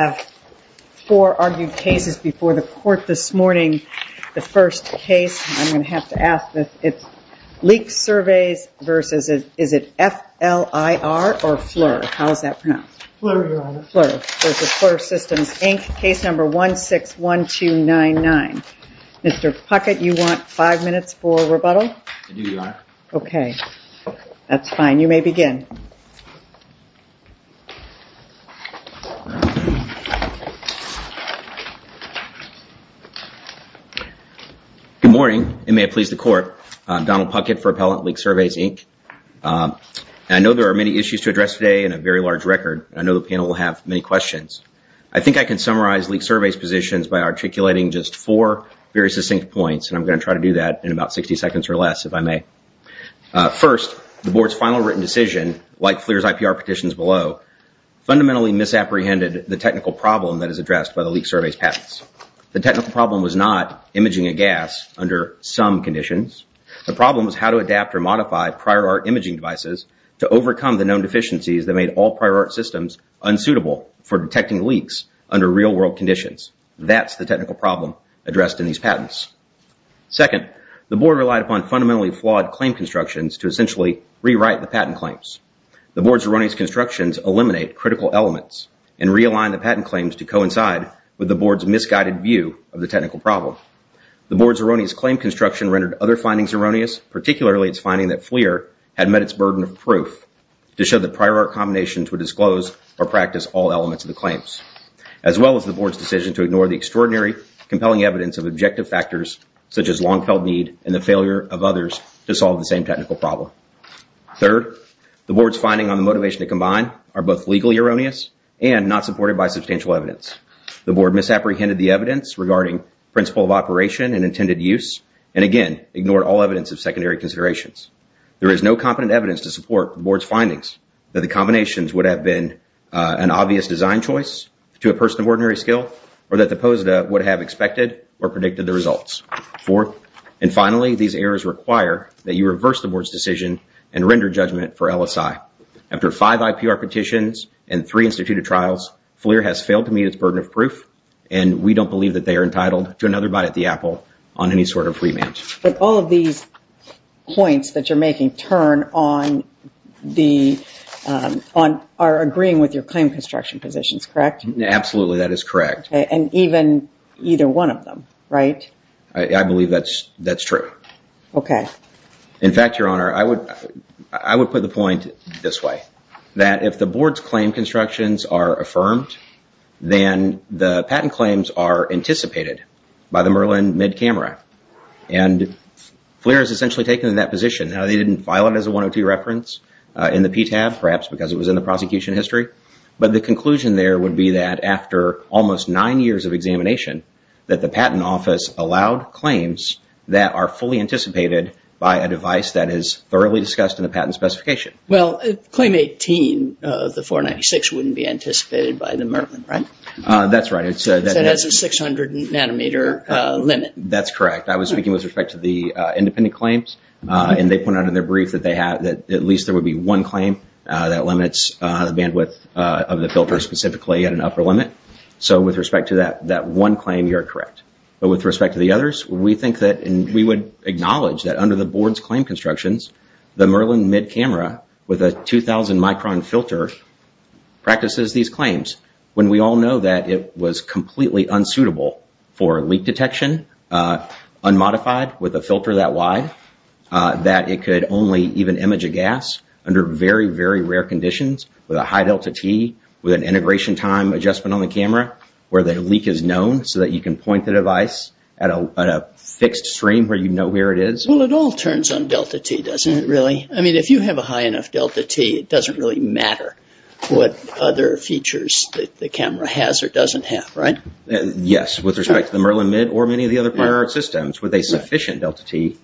I have four argued cases before the court this morning. The first case, I'm going to have to ask this. It's Leak Surveys versus, is it FLIR or FLIR? How is that pronounced? FLIR, Your Honor. FLIR versus FLIR Systems, Inc. Case number 161299. Mr. Puckett, you want five minutes for rebuttal? I do, Your Honor. Okay, that's fine. You may begin. Good morning, and may it please the court. Donald Puckett for Appellant Leak Surveys, Inc. I know there are many issues to address today and a very large record. I know the panel will have many questions. I think I can summarize Leak Surveys' positions by articulating just four very succinct points, and I'm going to try to do that in about 60 seconds or less, if I may. First, the Board's final written decision, like FLIR's IPR petitions below, fundamentally misapprehended the technical problem that is addressed by the Leak Surveys' patents. The technical problem was not imaging a gas under some conditions. The problem was how to adapt or modify prior art imaging devices to overcome the known deficiencies that made all prior art systems unsuitable for detecting leaks under real-world conditions. That's the technical problem addressed in these patents. Second, the Board relied upon fundamentally flawed claim constructions to essentially rewrite the patent claims. The Board's erroneous constructions eliminate critical elements and realign the patent claims to coincide with the Board's misguided view of the technical problem. The Board's erroneous claim construction rendered other findings erroneous, particularly its finding that FLIR had met its burden of proof to show that prior art combinations would disclose or practice all elements of the claims, as well as the Board's decision to ignore the extraordinary, compelling evidence of objective factors such as long-held need and the failure of others to solve the same technical problem. Third, the Board's findings on the motivation to combine are both legally erroneous and not supported by substantial evidence. The Board misapprehended the evidence regarding principle of operation and intended use and, again, ignored all evidence of secondary considerations. There is no competent evidence to support the Board's findings that the combinations would have been an obvious design choice to a person of ordinary skill or that the POSDA would have expected or predicted the results. Fourth, and finally, these errors require that you reverse the Board's decision and render judgment for LSI. After five IPR petitions and three instituted trials, FLIR has failed to meet its burden of proof and we don't believe that they are entitled to another bite at the apple on any sort of remand. But all of these points that you're making turn on the, are agreeing with your claim construction positions, correct? Absolutely, that is correct. And even either one of them, right? I believe that's true. Okay. In fact, Your Honor, I would put the point this way, that if the Board's claim constructions are affirmed, then the patent claims are anticipated by the Merlin mid-camera. And FLIR has essentially taken that position. Now, they didn't file it as a 102 reference in the PTAB, perhaps because it was in the prosecution history, but the conclusion there would be that after almost nine years of examination, that the Patent Office allowed claims that are fully anticipated by a device that is thoroughly discussed in the patent specification. Well, claim 18 of the 496 wouldn't be anticipated by the Merlin, right? That's right. Because it has a 600 nanometer limit. That's correct. I was speaking with respect to the independent claims, and they pointed out in their brief that at least there would be one claim that limits the bandwidth of the filter specifically at an upper limit. So with respect to that one claim, you're correct. But with respect to the others, we think that, and we would acknowledge that under the Board's claim constructions, the Merlin mid-camera with a 2,000 micron filter practices these claims when we all know that it was completely unsuitable for leak detection, unmodified with a filter that wide, that it could only even image a gas under very, very rare conditions with a high delta-T with an integration time adjustment on the camera where the leak is known so that you can point the device at a fixed stream where you know where it is. Well, it all turns on delta-T, doesn't it, really? I mean, if you have a high enough delta-T, it doesn't really matter what other features the camera has or doesn't have, right? Yes, with respect to the Merlin mid or many of the other prior art systems with a sufficient delta-T,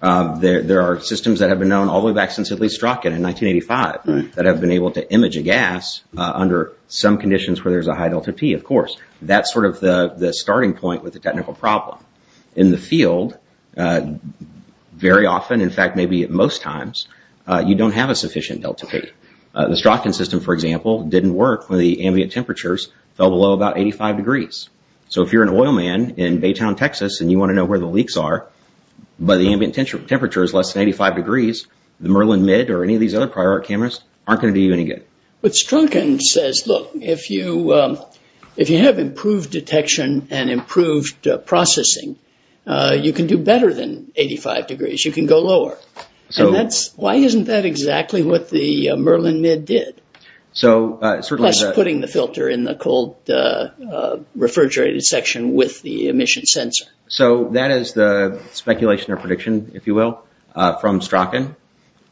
there are systems that have been known all the way back since at least Stratkin in 1985 that have been able to image a gas under some conditions where there's a high delta-T, of course. That's sort of the starting point with the technical problem. In the field, very often, in fact, maybe most times, you don't have a sufficient delta-T. The Stratkin system, for example, didn't work when the ambient temperatures fell below about 85 degrees. So if you're an oil man in Baytown, Texas, and you want to know where the leaks are, but the ambient temperature is less than 85 degrees, the Merlin mid or any of these other prior art cameras aren't going to do you any good. But Stratkin says, look, if you have improved detection and improved processing, you can do better than 85 degrees. You can go lower. Why isn't that exactly what the Merlin mid did? Plus putting the filter in the cold refrigerated section with the emission sensor. So that is the speculation or prediction, if you will, from Stratkin.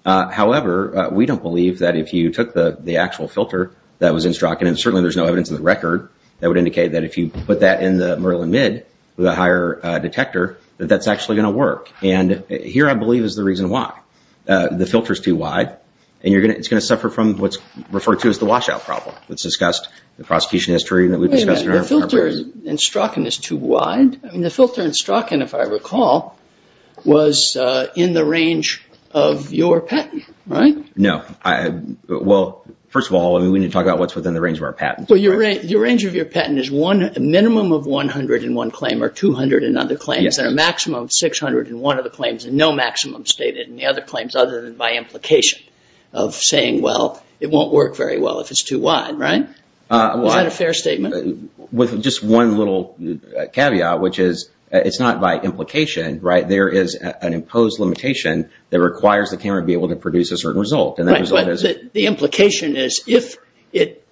However, we don't believe that if you took the actual filter that was in Stratkin, and certainly there's no evidence in the record that would indicate that if you put that in the Merlin mid with a higher detector, that that's actually going to work. And here, I believe, is the reason why. The filter is too wide, and it's going to suffer from what's referred to as the washout problem. It's discussed in the prosecution history. The filter in Stratkin is too wide? The filter in Stratkin, if I recall, was in the range of your patent, right? No. Well, first of all, we need to talk about what's within the range of our patent. The range of your patent is a minimum of 101 claims or 200 and other claims, and a maximum of 601 of the claims, and no maximum stated in the other claims other than by implication of saying, well, it won't work very well if it's too wide, right? Is that a fair statement? With just one little caveat, which is it's not by implication, right? There is an imposed limitation that requires the camera to be able to produce a certain result. The implication is if it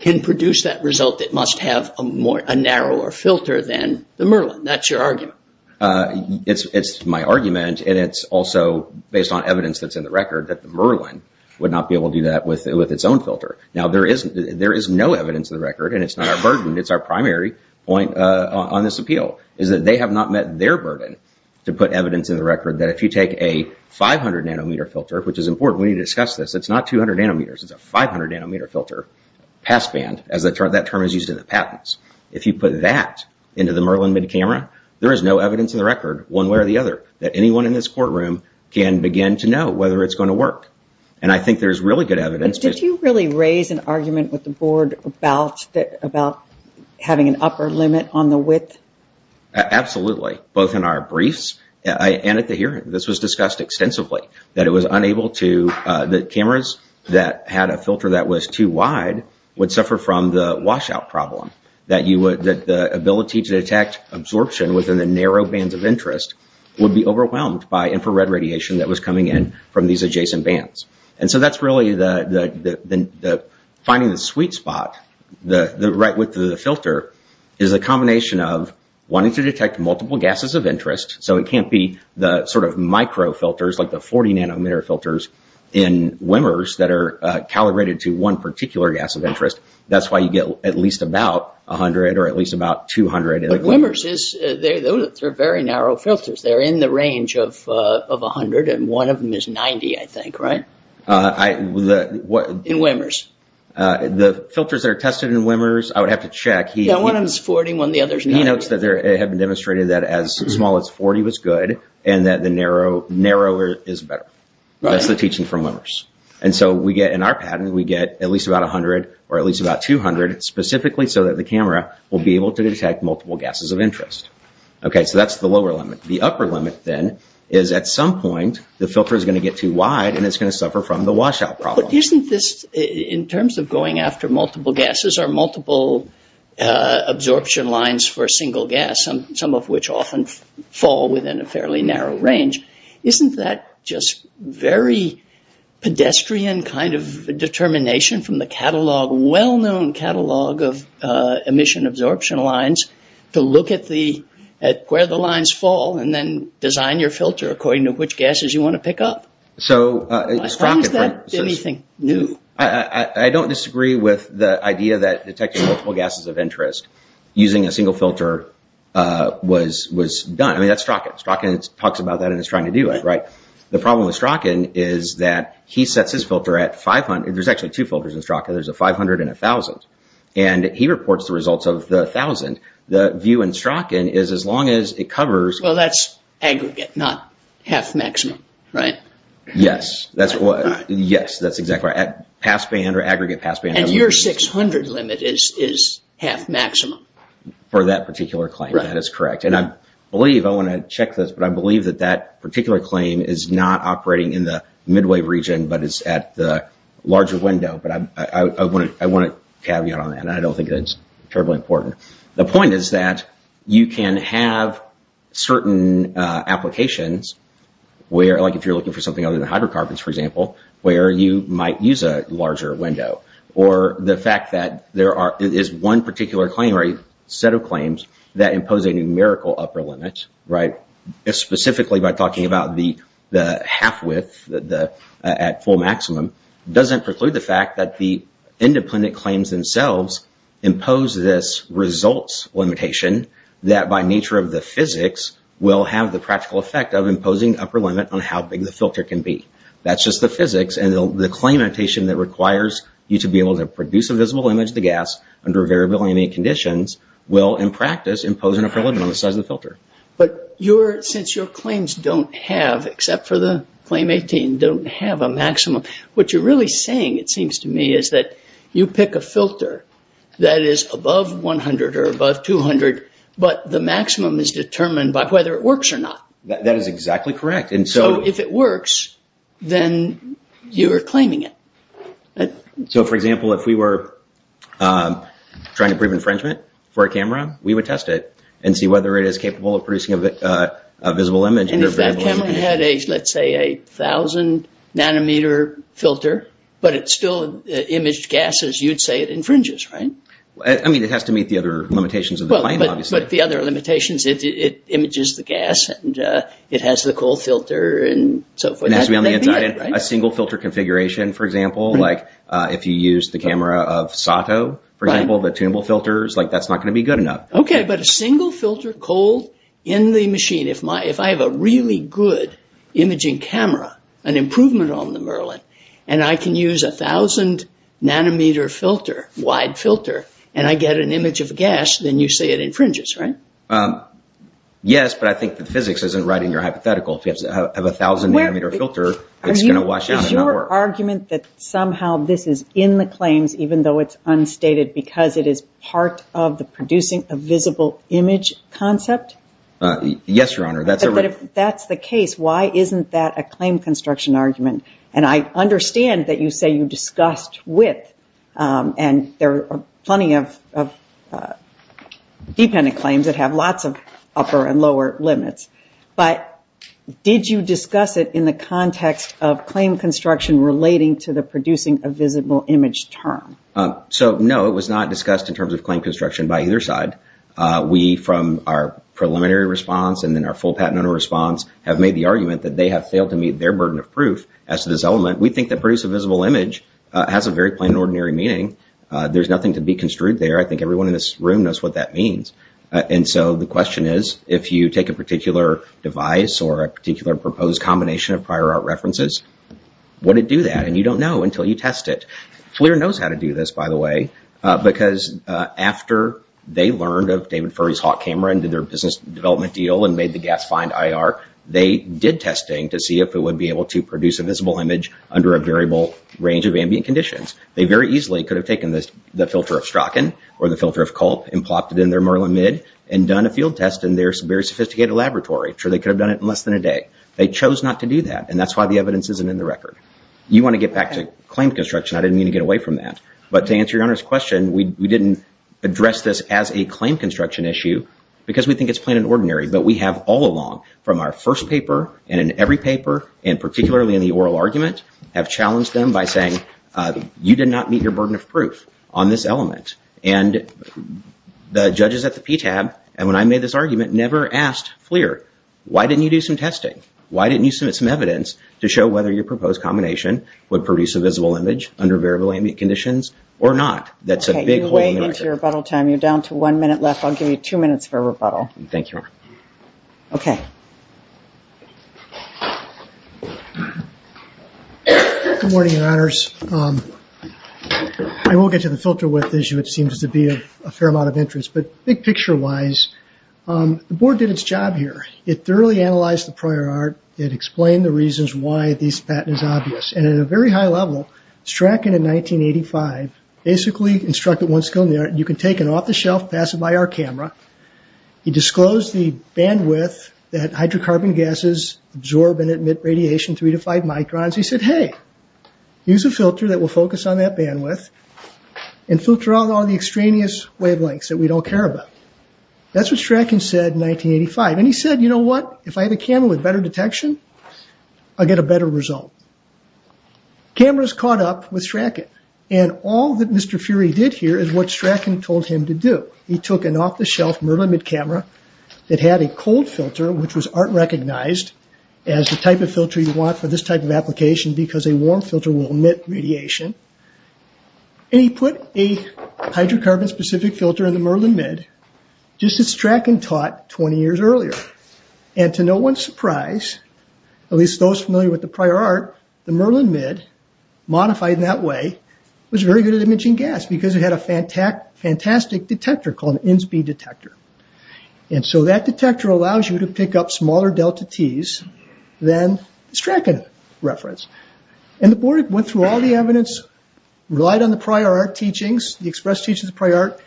can produce that result, it must have a narrower filter than the Merlin. That's your argument. It's my argument, and it's also based on evidence that's in the record that the Merlin would not be able to do that with its own filter. Now, there is no evidence in the record, and it's not our burden. It's our primary point on this appeal is that they have not met their burden to put evidence in the record that if you take a 500 nanometer filter, which is important. We need to discuss this. It's not 200 nanometers. It's a 500 nanometer filter passband. That term is used in the patents. If you put that into the Merlin mid-camera, there is no evidence in the record one way or the other that anyone in this courtroom can begin to know whether it's going to work, and I think there's really good evidence. Did you really raise an argument with the board about having an upper limit on the width? Absolutely, both in our briefs and at the hearing. This was discussed extensively, that it was unable to – that the ability to detect absorption within the narrow bands of interest would be overwhelmed by infrared radiation that was coming in from these adjacent bands. And so that's really the – finding the sweet spot, the right width of the filter, is a combination of wanting to detect multiple gases of interest, so it can't be the sort of micro filters like the 40 nanometer filters in Wimmers that are calibrated to one particular gas of interest. That's why you get at least about 100 or at least about 200 in Wimmers. But Wimmers is – they're very narrow filters. They're in the range of 100, and one of them is 90, I think, right? In Wimmers. The filters that are tested in Wimmers, I would have to check. Yeah, one of them is 40, one of the others not. He notes that it had been demonstrated that as small as 40 was good, and that the narrower is better. That's the teaching from Wimmers. And so we get – in our pattern, we get at least about 100 or at least about 200 specifically so that the camera will be able to detect multiple gases of interest. Okay, so that's the lower limit. The upper limit, then, is at some point the filter is going to get too wide and it's going to suffer from the washout problem. But isn't this – in terms of going after multiple gases or multiple absorption lines for a single gas, some of which often fall within a fairly narrow range, isn't that just very pedestrian kind of determination from the catalog, well-known catalog of emission absorption lines, to look at the – at where the lines fall and then design your filter according to which gases you want to pick up? So – Why is that anything new? I don't disagree with the idea that detecting multiple gases of interest using a single filter was done. I mean, that's Strachan. Strachan talks about that and is trying to do it, right? The problem with Strachan is that he sets his filter at 500 – there's actually two filters in Strachan. There's a 500 and a 1,000. And he reports the results of the 1,000. The view in Strachan is as long as it covers – Well, that's aggregate, not half-maximum, right? Yes. That's what – yes, that's exactly right. Passband or aggregate passband. And your 600 limit is half-maximum? For that particular claim, that is correct. And I believe – I want to check this, but I believe that that particular claim is not operating in the midway region but is at the larger window. But I want to caveat on that. I don't think that's terribly important. The point is that you can have certain applications where – like if you're looking for something other than hydrocarbons, for example, where you might use a larger window. Or the fact that there are – that impose a numerical upper limit, right, specifically by talking about the half-width at full maximum, doesn't preclude the fact that the independent claims themselves impose this results limitation that by nature of the physics will have the practical effect of imposing upper limit on how big the filter can be. That's just the physics. And the claim notation that requires you to be able to produce a visible image of the gas under variable conditions will, in practice, impose an upper limit on the size of the filter. But since your claims don't have, except for the claim 18, don't have a maximum, what you're really saying, it seems to me, is that you pick a filter that is above 100 or above 200, but the maximum is determined by whether it works or not. That is exactly correct. So if it works, then you are claiming it. So, for example, if we were trying to prove infringement for a camera, we would test it and see whether it is capable of producing a visible image. And if that camera had a, let's say, a 1,000 nanometer filter, but it still imaged gas as you'd say it infringes, right? I mean, it has to meet the other limitations of the claim, obviously. But the other limitations, it images the gas and it has the cold filter and so forth. A single filter configuration, for example, like if you use the camera of Sato, for example, the tunable filters, that's not going to be good enough. Okay, but a single filter cold in the machine. If I have a really good imaging camera, an improvement on the Merlin, and I can use a 1,000 nanometer filter, wide filter, and I get an image of gas, then you say it infringes, right? Yes, but I think the physics isn't right in your hypothetical. If you have a 1,000 nanometer filter, it's going to wash out and not work. Is your argument that somehow this is in the claims even though it's unstated because it is part of the producing a visible image concept? Yes, Your Honor. But if that's the case, why isn't that a claim construction argument? And I understand that you say you discussed width, and there are plenty of dependent claims that have lots of upper and lower limits. But did you discuss it in the context of claim construction relating to the producing a visible image term? So, no, it was not discussed in terms of claim construction by either side. We, from our preliminary response and then our full patent owner response, have made the argument that they have failed to meet their burden of proof as to this element. We think that produce a visible image has a very plain and ordinary meaning. There's nothing to be construed there. I think everyone in this room knows what that means. And so the question is, if you take a particular device or a particular proposed combination of prior art references, would it do that? And you don't know until you test it. FLIR knows how to do this, by the way, because after they learned of David Furry's Hawk camera and did their business development deal and made the gas find IR, they did testing to see if it would be able to produce a visible image under a variable range of ambient conditions. They very easily could have taken the filter of Strachan or the filter of Culp and plopped it in their Merlin mid and done a field test in their very sophisticated laboratory. I'm sure they could have done it in less than a day. They chose not to do that, and that's why the evidence isn't in the record. You want to get back to claim construction. I didn't mean to get away from that. But to answer your Honor's question, we didn't address this as a claim construction issue because we think it's plain and ordinary. But we have all along, from our first paper and in every paper and particularly in the oral argument, have challenged them by saying you did not meet your burden of proof on this element. And the judges at the PTAB, and when I made this argument, never asked FLIR, why didn't you do some testing? Why didn't you submit some evidence to show whether your proposed combination would produce a visible image under variable ambient conditions or not? That's a big hole in the record. You're way into your rebuttal time. You're down to one minute left. I'll give you two minutes for rebuttal. Thank you, Your Honor. Okay. Good morning, Your Honors. I won't get to the filter width issue. It seems to be of a fair amount of interest. But big picture-wise, the board did its job here. It thoroughly analyzed the prior art. It explained the reasons why this patent is obvious. And at a very high level, Strachan in 1985 basically instructed once again, you can take it off the shelf, pass it by our camera. He disclosed the bandwidth that hydrocarbon gases absorb and emit radiation, three to five microns. He said, hey, use a filter that will focus on that bandwidth and filter out all the extraneous wavelengths that we don't care about. That's what Strachan said in 1985. And he said, you know what? If I have a camera with better detection, I'll get a better result. Cameras caught up with Strachan. And all that Mr. Fury did here is what Strachan told him to do. He took an off-the-shelf Merlin mid-camera that had a cold filter, which was art-recognized as the type of filter you want for this type of application because a warm filter will emit radiation. And he put a hydrocarbon-specific filter in the Merlin mid just as Strachan taught 20 years earlier. And to no one's surprise, at least those familiar with the prior art, the Merlin mid, modified in that way, was very good at emitting gas because it had a fantastic detector called an Innsby detector. And so that detector allows you to pick up smaller delta Ts than Strachan referenced. And the board went through all the evidence, relied on the prior art teachings, the express teachings of the prior art,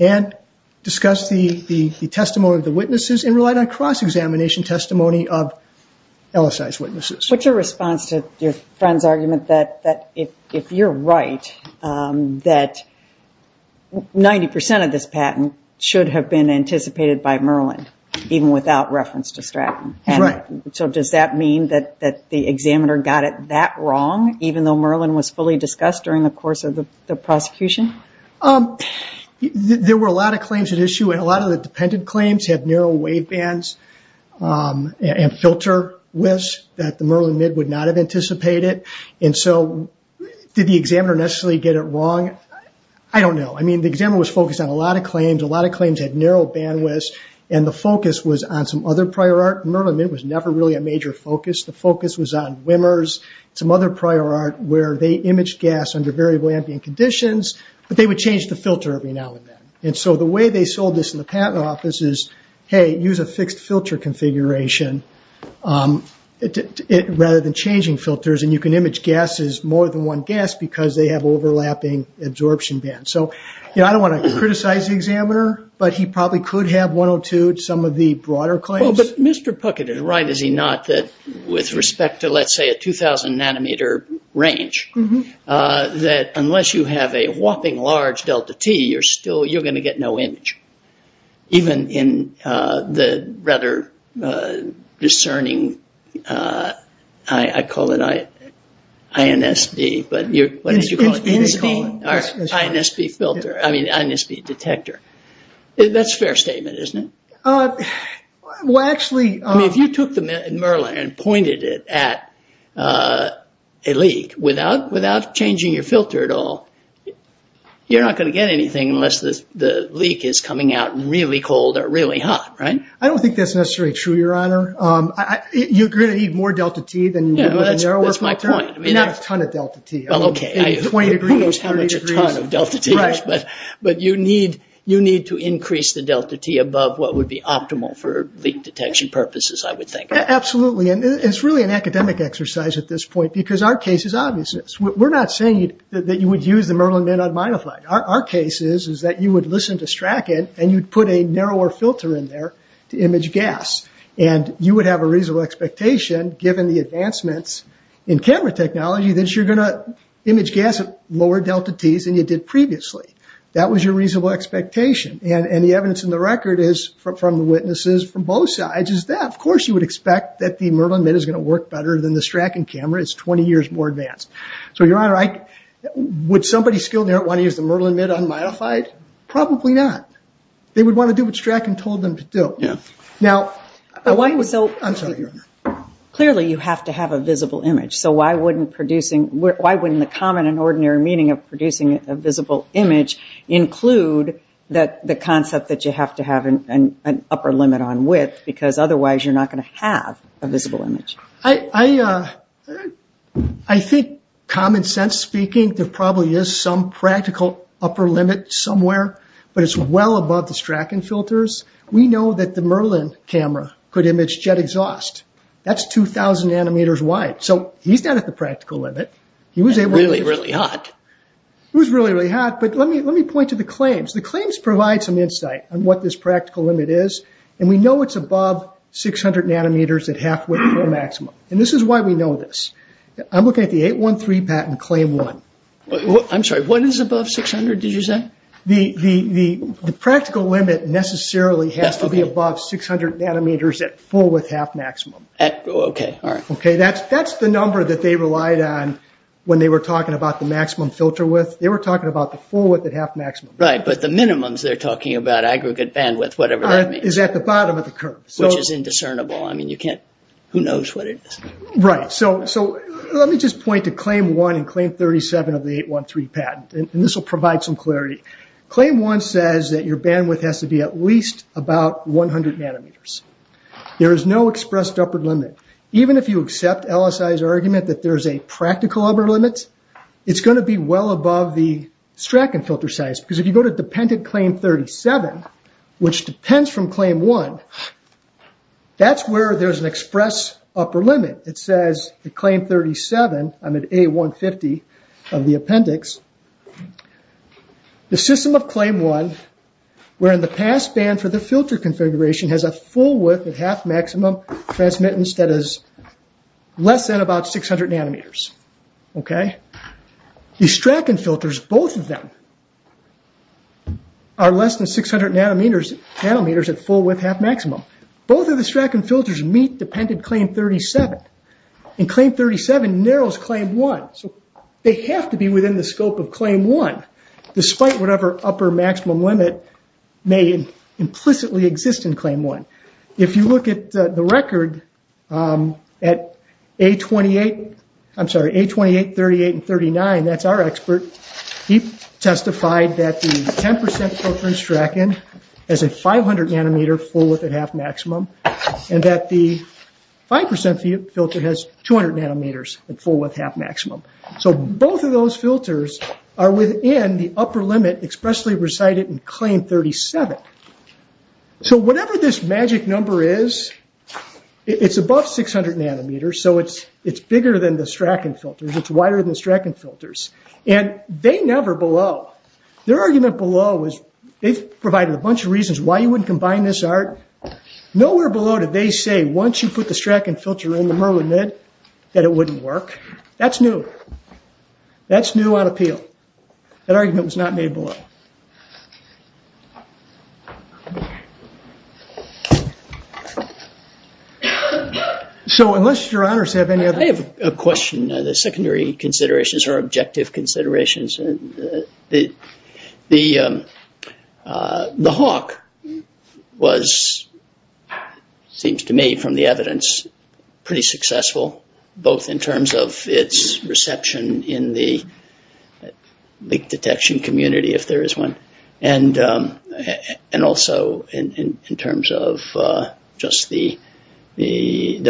and discussed the testimony of the witnesses and relied on cross-examination testimony of LSI's witnesses. What's your response to your friend's argument that if you're right, that 90% of this patent should have been anticipated by Merlin, even without reference to Strachan. So does that mean that the examiner got it that wrong, even though Merlin was fully discussed during the course of the prosecution? There were a lot of claims at issue, and a lot of the dependent claims had narrow wave bands and filter widths that the Merlin mid would not have anticipated. And so did the examiner necessarily get it wrong? I don't know. I mean, the examiner was focused on a lot of claims. A lot of claims had narrow bandwidths, and the focus was on some other prior art. Merlin mid was never really a major focus. The focus was on Wimmers, some other prior art where they imaged gas under variable ambient conditions, but they would change the filter every now and then. And so the way they sold this in the patent office is, hey, use a fixed filter configuration rather than changing filters, and you can image gases more than one gas because they have overlapping absorption bands. So I don't want to criticize the examiner, but he probably could have one or two, some of the broader claims. But Mr. Puckett is right, is he not, that with respect to, let's say, a 2,000 nanometer range, that unless you have a whopping large delta T, you're going to get no image, even in the rather discerning, I call it INSB, but what did you call it? INSB. INSB filter, I mean, INSB detector. That's a fair statement, isn't it? Well, actually... I mean, if you took the Merlin and pointed it at a leak without changing your filter at all, you're not going to get anything unless the leak is coming out really cold or really hot, right? I don't think that's necessarily true, Your Honor. You're going to need more delta T than you would with a narrower filter. That's my point. Not a ton of delta T. Well, okay. Who knows how much a ton of delta T is? Right. But you need to increase the delta T above what would be optimal for leak detection purposes, I would think. Absolutely. And it's really an academic exercise at this point because our case is obvious. We're not saying that you would use the Merlin Min on minified. Our case is that you would listen to Strachan, and you'd put a narrower filter in there to image gas. And you would have a reasonable expectation, given the advancements in camera technology, that you're going to image gas at lower delta T's than you did previously. That was your reasonable expectation. And the evidence in the record is from the witnesses from both sides is that, of course, you would expect that the Merlin Min is going to work better than the Strachan camera. It's 20 years more advanced. So, Your Honor, would somebody skilled in there want to use the Merlin Min on minified? Probably not. They would want to do what Strachan told them to do. Yeah. Now, I'm sorry, Your Honor. Clearly, you have to have a visible image. So why wouldn't the common and ordinary meaning of producing a visible image include the concept that you have to have an upper limit on width? Because otherwise, you're not going to have a visible image. I think, common sense speaking, there probably is some practical upper limit somewhere, but it's well above the Strachan filters. We know that the Merlin camera could image jet exhaust. That's 2,000 nanometers wide. So he's not at the practical limit. Really, really hot. It was really, really hot. But let me point to the claims. The claims provide some insight on what this practical limit is. And we know it's above 600 nanometers at half width or maximum. And this is why we know this. I'm looking at the 813 patent claim 1. I'm sorry. What is above 600, did you say? The practical limit necessarily has to be above 600 nanometers at full width, half maximum. Okay. All right. Okay, that's the number that they relied on when they were talking about the maximum filter width. They were talking about the full width at half maximum. Right, but the minimums they're talking about, aggregate bandwidth, whatever that means. Is at the bottom of the curve. Which is indiscernible. I mean, you can't, who knows what it is. Right. So let me just point to claim 1 and claim 37 of the 813 patent. And this will provide some clarity. Claim 1 says that your bandwidth has to be at least about 100 nanometers. There is no expressed upper limit. Even if you accept LSI's argument that there's a practical upper limit, it's going to be well above the Strachan filter size. Because if you go to dependent claim 37, which depends from claim 1, that's where there's an express upper limit. It says that claim 37, I'm at A150 of the appendix. The system of claim 1, wherein the pass band for the filter configuration has a full width at half maximum, transmittance that is less than about 600 nanometers. Okay. The Strachan filters, both of them, are less than 600 nanometers at full width half maximum. Both of the Strachan filters meet dependent claim 37. And claim 37 narrows claim 1. So they have to be within the scope of claim 1, despite whatever upper maximum limit may implicitly exist in claim 1. If you look at the record, at A28, 38, and 39, that's our expert, he testified that the 10% filter in Strachan has a 500 nanometer full width at half maximum, and that the 5% filter has 200 nanometers at full width half maximum. So both of those filters are within the upper limit expressly recited in claim 37. So whatever this magic number is, it's above 600 nanometers, so it's bigger than the Strachan filters. It's wider than the Strachan filters. And they never below. Their argument below was they provided a bunch of reasons why you wouldn't combine this art. Nowhere below did they say once you put the Strachan filter in the Merlin lid that it wouldn't work. That's new. That's new on appeal. That argument was not made below. So unless your honors have any other questions. I have a question. The secondary considerations are objective considerations. The hawk was, seems to me from the evidence, pretty successful, both in terms of its reception in the leak detection community, if there is one, and also in terms of just the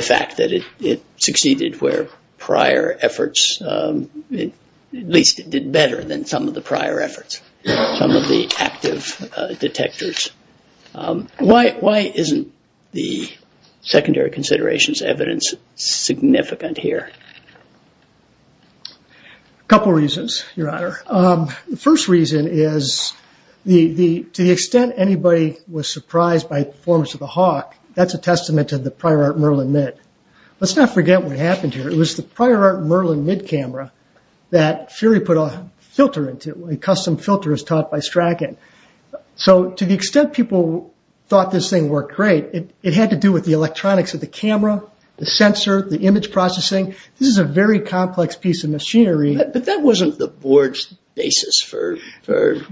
fact that it succeeded where prior efforts, at least it did better than some of the prior efforts, some of the active detectors. Why isn't the secondary considerations evidence significant here? A couple reasons, your honor. The first reason is to the extent anybody was surprised by the performance of the hawk, that's a testament to the prior Merlin lid. Let's not forget what happened here. It was the prior Merlin lid camera that Fury put a filter into, a custom filter as taught by Strachan. So to the extent people thought this thing worked great, it had to do with the electronics of the camera, the sensor, the image processing. This is a very complex piece of machinery. But that wasn't the board's basis for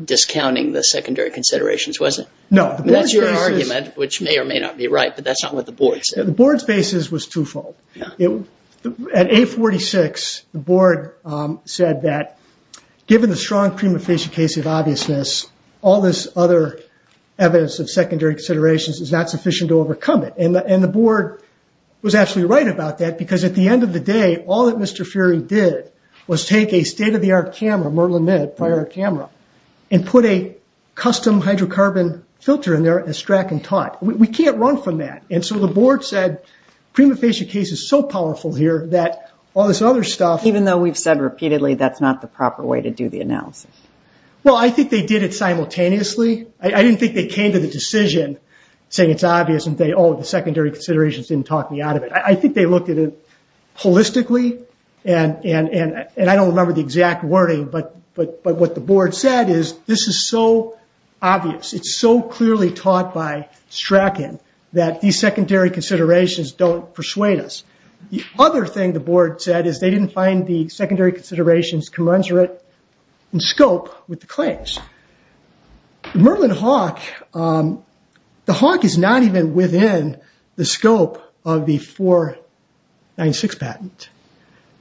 discounting the secondary considerations, was it? No. That's your argument, which may or may not be right, but that's not what the board said. The board's basis was twofold. At 846, the board said that given the strong prima facie case of obviousness, all this other evidence of secondary considerations is not sufficient to overcome it. And the board was absolutely right about that because at the end of the day, all that Mr. Fury did was take a state-of-the-art camera, Merlin lid, prior camera, and put a custom hydrocarbon filter in there as Strachan taught. We can't run from that. And so the board said prima facie case is so powerful here that all this other stuff. Even though we've said repeatedly that's not the proper way to do the analysis. Well, I think they did it simultaneously. I didn't think they came to the decision saying it's obvious and say, oh, the secondary considerations didn't talk me out of it. I think they looked at it holistically. And I don't remember the exact wording, but what the board said is this is so obvious. It's so clearly taught by Strachan that these secondary considerations don't persuade us. The other thing the board said is they didn't find the secondary considerations commensurate in scope with the claims. Merlin Hawk, the Hawk is not even within the scope of the 496 patent.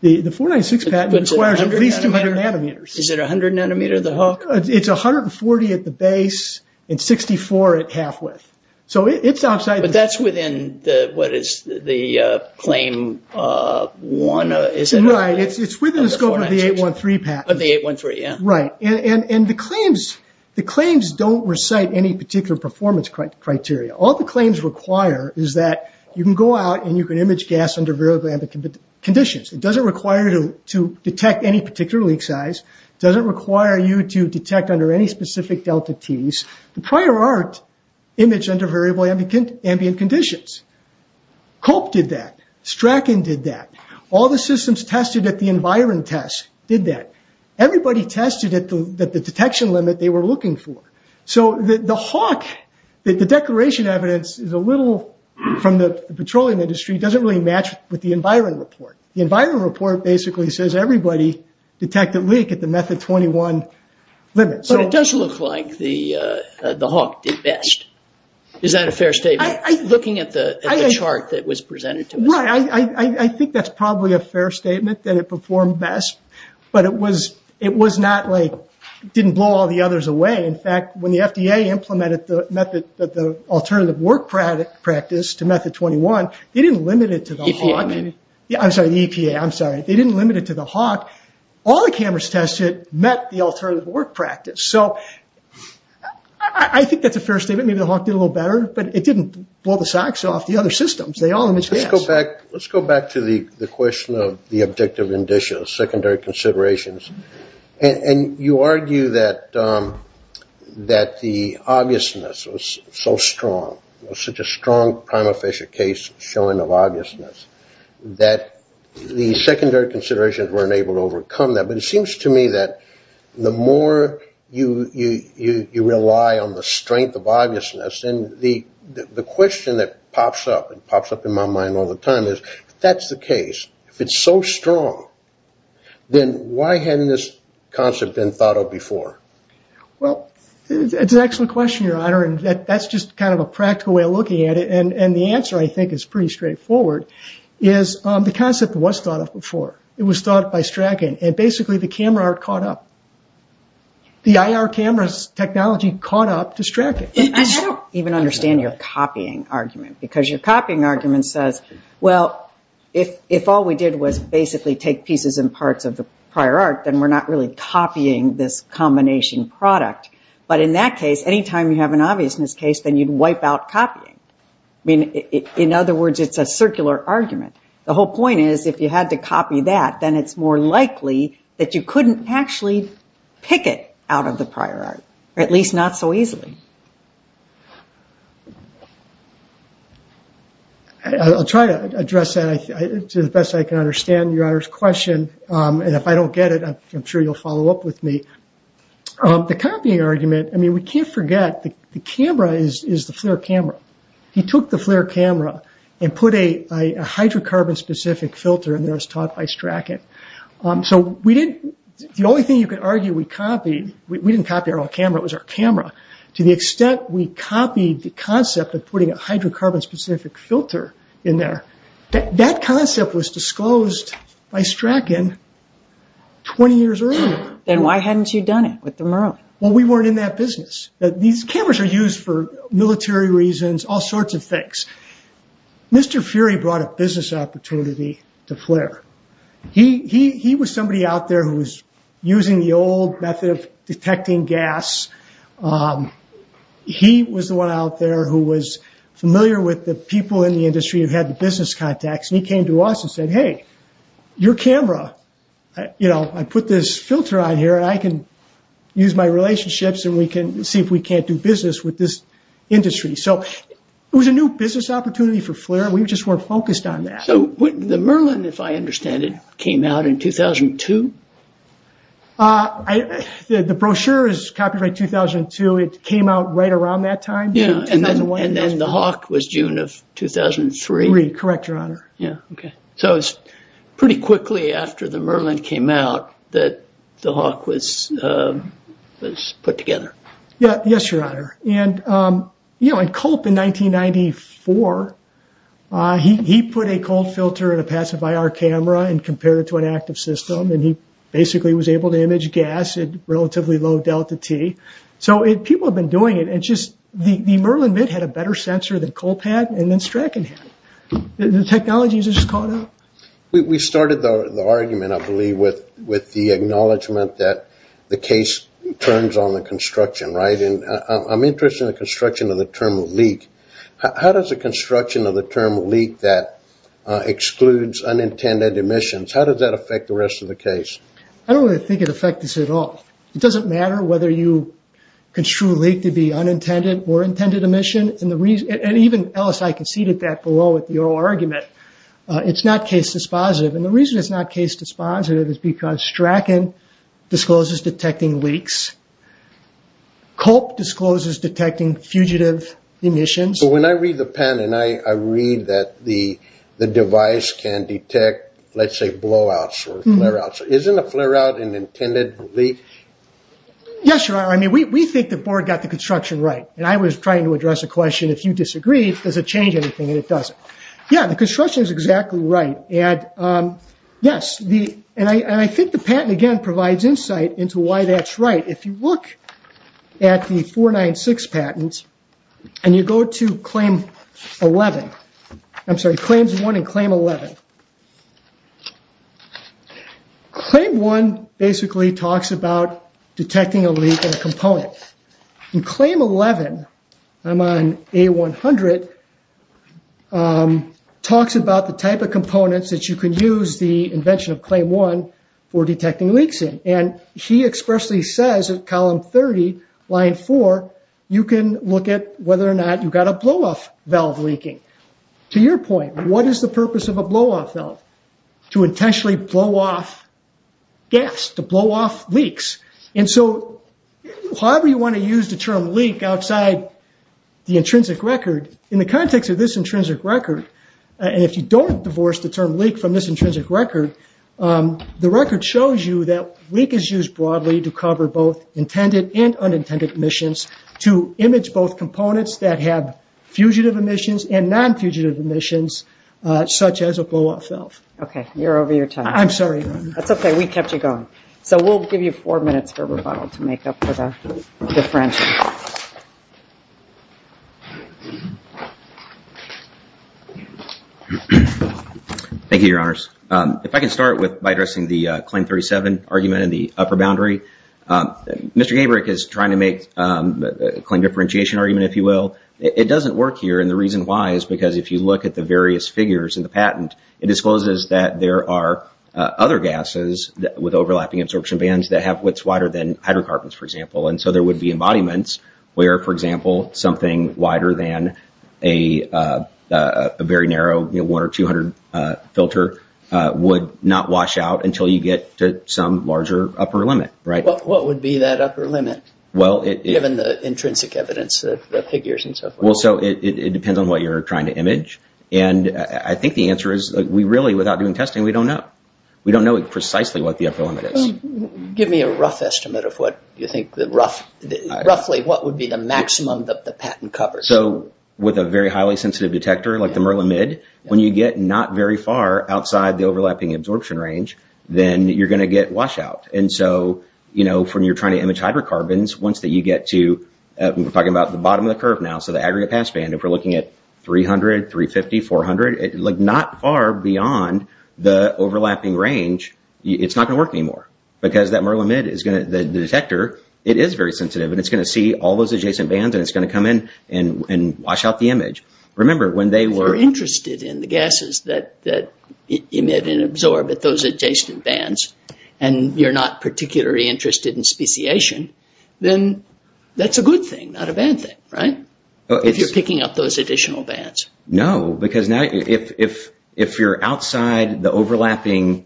The 496 patent requires at least 200 nanometers. Is it 100 nanometer, the Hawk? It's 140 at the base and 64 at half width. So it's outside. But that's within what is the claim one, is it? Right. It's within the scope of the 813 patent. Of the 813, yeah. Right. And the claims don't recite any particular performance criteria. All the claims require is that you can go out and you can image gas under variable ambient conditions. It doesn't require you to detect any particular leak size. It doesn't require you to detect under any specific delta Ts. The prior art imaged under variable ambient conditions. Culp did that. Strachan did that. All the systems tested at the Environ test did that. Everybody tested at the detection limit they were looking for. So the Hawk, the declaration evidence is a little from the petroleum industry, doesn't really match with the Environ report. The Environ report basically says everybody detected leak at the method 21 limit. But it does look like the Hawk did best. Is that a fair statement looking at the chart that was presented to us? I think that's probably a fair statement that it performed best. But it was not like it didn't blow all the others away. In fact, when the FDA implemented the alternative work practice to method 21, they didn't limit it to the Hawk. The EPA. I'm sorry, the EPA. I'm sorry. They didn't limit it to the Hawk. All the cameras tested met the alternative work practice. So I think that's a fair statement. Maybe the Hawk did a little better. But it didn't blow the socks off the other systems. They all imaged gas. Let's go back to the question of the objective indicial, secondary considerations. And you argue that the obviousness was so strong, such a strong prima facie case showing of obviousness, that the secondary considerations weren't able to overcome that. But it seems to me that the more you rely on the strength of obviousness, the question that pops up and pops up in my mind all the time is, if that's the case, if it's so strong, then why hadn't this concept been thought of before? Well, it's an excellent question, Your Honor. And that's just kind of a practical way of looking at it. And the answer, I think, is pretty straightforward, is the concept was thought of before. It was thought of by Strathcote. And basically the camera art caught up. The IR cameras technology caught up to Strathcote. I don't even understand your copying argument, because your copying argument says, well, if all we did was basically take pieces and parts of the prior art, then we're not really copying this combination product. But in that case, any time you have an obviousness case, then you'd wipe out copying. I mean, in other words, it's a circular argument. The whole point is, if you had to copy that, then it's more likely that you couldn't actually pick it out of the prior art, or at least not so easily. I'll try to address that to the best I can understand Your Honor's question. And if I don't get it, I'm sure you'll follow up with me. The copying argument, I mean, we can't forget the camera is the FLIR camera. He took the FLIR camera and put a hydrocarbon-specific filter in there as taught by Strathcote. The only thing you could argue we copied, we didn't copy our own camera, it was our camera. To the extent we copied the concept of putting a hydrocarbon-specific filter in there, that concept was disclosed by Strathcote 20 years earlier. Then why hadn't you done it with the Murrow? Well, we weren't in that business. These cameras are used for military reasons, all sorts of things. Mr. Fury brought a business opportunity to FLIR. He was somebody out there who was using the old method of detecting gas. He was the one out there who was familiar with the people in the industry who had the business contacts, and he came to us and said, hey, your camera. I put this filter on here, and I can use my relationships, and we can see if we can't do business with this industry. So it was a new business opportunity for FLIR. We just weren't focused on that. The Merlin, if I understand it, came out in 2002? The brochure is copied by 2002. It came out right around that time. Then the Hawk was June of 2003? Correct, Your Honor. It was pretty quickly after the Merlin came out that the Hawk was put together. Yes, Your Honor. Culp, in 1994, he put a cold filter in a passive IR camera and compared it to an active system, and he basically was able to image gas at relatively low delta T. So people have been doing it. The Merlin MIT had a better sensor than Culp had, and then Stratton had. The technology has just caught up. We started the argument, I believe, with the acknowledgement that the case turns on the construction. I'm interested in the construction of the term leak. How does the construction of the term leak that excludes unintended emissions, how does that affect the rest of the case? I don't really think it affects this at all. It doesn't matter whether you construe leak to be unintended or intended emission, and even LSI conceded that below with the oral argument. It's not case dispositive. The reason it's not case dispositive is because Stratton discloses detecting leaks. Culp discloses detecting fugitive emissions. When I read the pen and I read that the device can detect, let's say, blowouts or flare-outs, isn't a flare-out an intended leak? Yes, Your Honor. We think the board got the construction right. I was trying to address a question, if you disagree, does it change anything, and it doesn't. Yes, the construction is exactly right. Yes, and I think the patent, again, provides insight into why that's right. If you look at the 496 patent and you go to Claim 1 and Claim 11, Claim 1 basically talks about detecting a leak in a component. Claim 11, I'm on A100, talks about the type of components that you can use, the invention of Claim 1 for detecting leaks in, and he expressly says in Column 30, Line 4, you can look at whether or not you've got a blow-off valve leaking. To your point, what is the purpose of a blow-off valve? To intentionally blow off gas, to blow off leaks. However you want to use the term leak outside the intrinsic record, in the context of this intrinsic record, and if you don't divorce the term leak from this intrinsic record, the record shows you that leak is used broadly to cover both intended and unintended emissions, to image both components that have fugitive emissions and non-fugitive emissions, such as a blow-off valve. Okay, you're over your time. I'm sorry, Your Honor. That's okay, we kept you going. So we'll give you four minutes for rebuttal to make up for the differentiation. Thank you, Your Honors. If I can start by addressing the Claim 37 argument in the upper boundary. Mr. Gabryk is trying to make a claim differentiation argument, if you will. It doesn't work here, and the reason why is because if you look at the various figures in the patent, it discloses that there are other gases with overlapping absorption bands that have widths wider than hydrocarbons, for example, and so there would be embodiments where, for example, something wider than a very narrow 1 or 200 filter would not wash out until you get to some larger upper limit, right? What would be that upper limit, given the intrinsic evidence, the figures and so forth? Well, so it depends on what you're trying to image, and I think the answer is we really, without doing testing, we don't know. We don't know precisely what the upper limit is. Give me a rough estimate of what you think, roughly, what would be the maximum that the patent covers. So with a very highly sensitive detector like the MERLAMID, when you get not very far outside the overlapping absorption range, then you're going to get washout. And so, you know, when you're trying to image hydrocarbons, once that you get to, we're talking about the bottom of the curve now, so the aggregate pass band, and if we're looking at 300, 350, 400, like not far beyond the overlapping range, it's not going to work anymore because that MERLAMID is going to, the detector, it is very sensitive and it's going to see all those adjacent bands and it's going to come in and wash out the image. Remember, when they were... If you're interested in the gases that emit and absorb at those adjacent bands and you're not particularly interested in speciation, then that's a good thing, not a bad thing, right? If you're picking up those additional bands. No, because now if you're outside the overlapping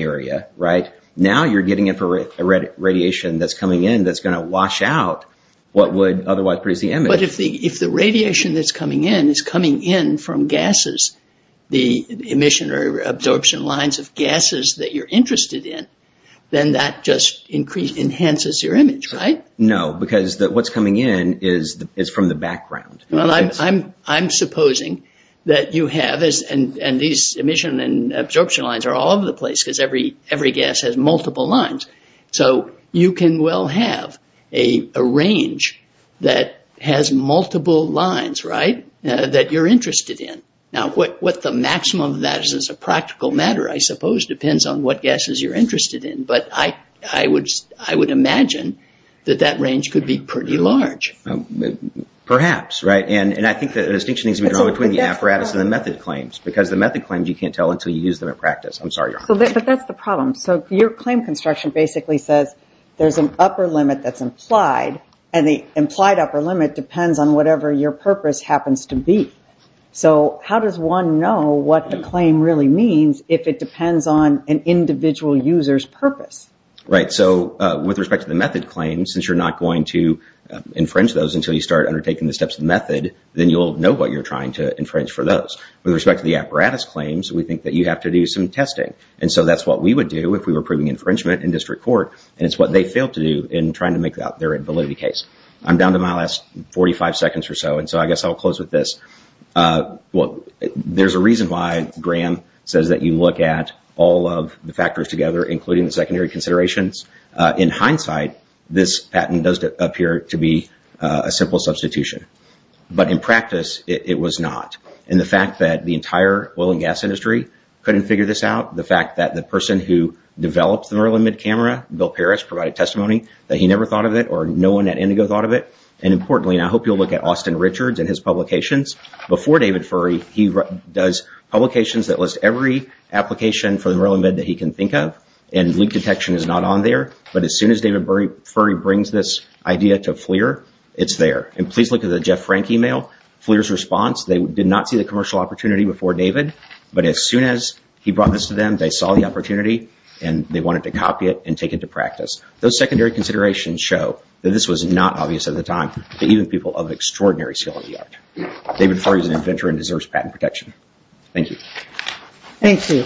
area, right, now you're getting a radiation that's coming in that's going to wash out what would otherwise produce the image. But if the radiation that's coming in is coming in from gases, the emission or absorption lines of gases that you're interested in, then that just enhances your image, right? No, because what's coming in is from the background. Well, I'm supposing that you have, and these emission and absorption lines are all over the place because every gas has multiple lines. So you can well have a range that has multiple lines, right, that you're interested in. Now, what the maximum of that is a practical matter, I suppose, depends on what gases you're interested in. But I would imagine that that range could be pretty large. Perhaps, right? And I think the distinction needs to be drawn between the apparatus and the method claims because the method claims you can't tell until you use them in practice. I'm sorry, Your Honor. But that's the problem. So your claim construction basically says there's an upper limit that's implied, and the implied upper limit depends on whatever your purpose happens to be. So how does one know what the claim really means if it depends on an individual user's purpose? Right. So with respect to the method claims, since you're not going to infringe those until you start undertaking the steps of the method, then you'll know what you're trying to infringe for those. With respect to the apparatus claims, we think that you have to do some testing. And so that's what we would do if we were proving infringement in district court, and it's what they failed to do in trying to make out their validity case. I'm down to my last 45 seconds or so, and so I guess I'll close with this. There's a reason why Graham says that you look at all of the factors together, including the secondary considerations. In hindsight, this patent does appear to be a simple substitution. But in practice, it was not. And the fact that the entire oil and gas industry couldn't figure this out, the fact that the person who developed the Merlin mid-camera, Bill Parrish, provided testimony that he never thought of it or no one at Indigo thought of it, and importantly, and I hope you'll look at Austin Richards and his publications, before David Furry, he does publications that list every application for the Merlin mid that he can think of, and leak detection is not on there. But as soon as David Furry brings this idea to FLIR, it's there. And please look at the Jeff Frank email. FLIR's response, they did not see the commercial opportunity before David, but as soon as he brought this to them, they saw the opportunity, and they wanted to copy it and take it to practice. Those secondary considerations show that this was not obvious at the time to even people of extraordinary skill in the art. David Furry is an inventor and deserves patent protection. Thank you. Thank you.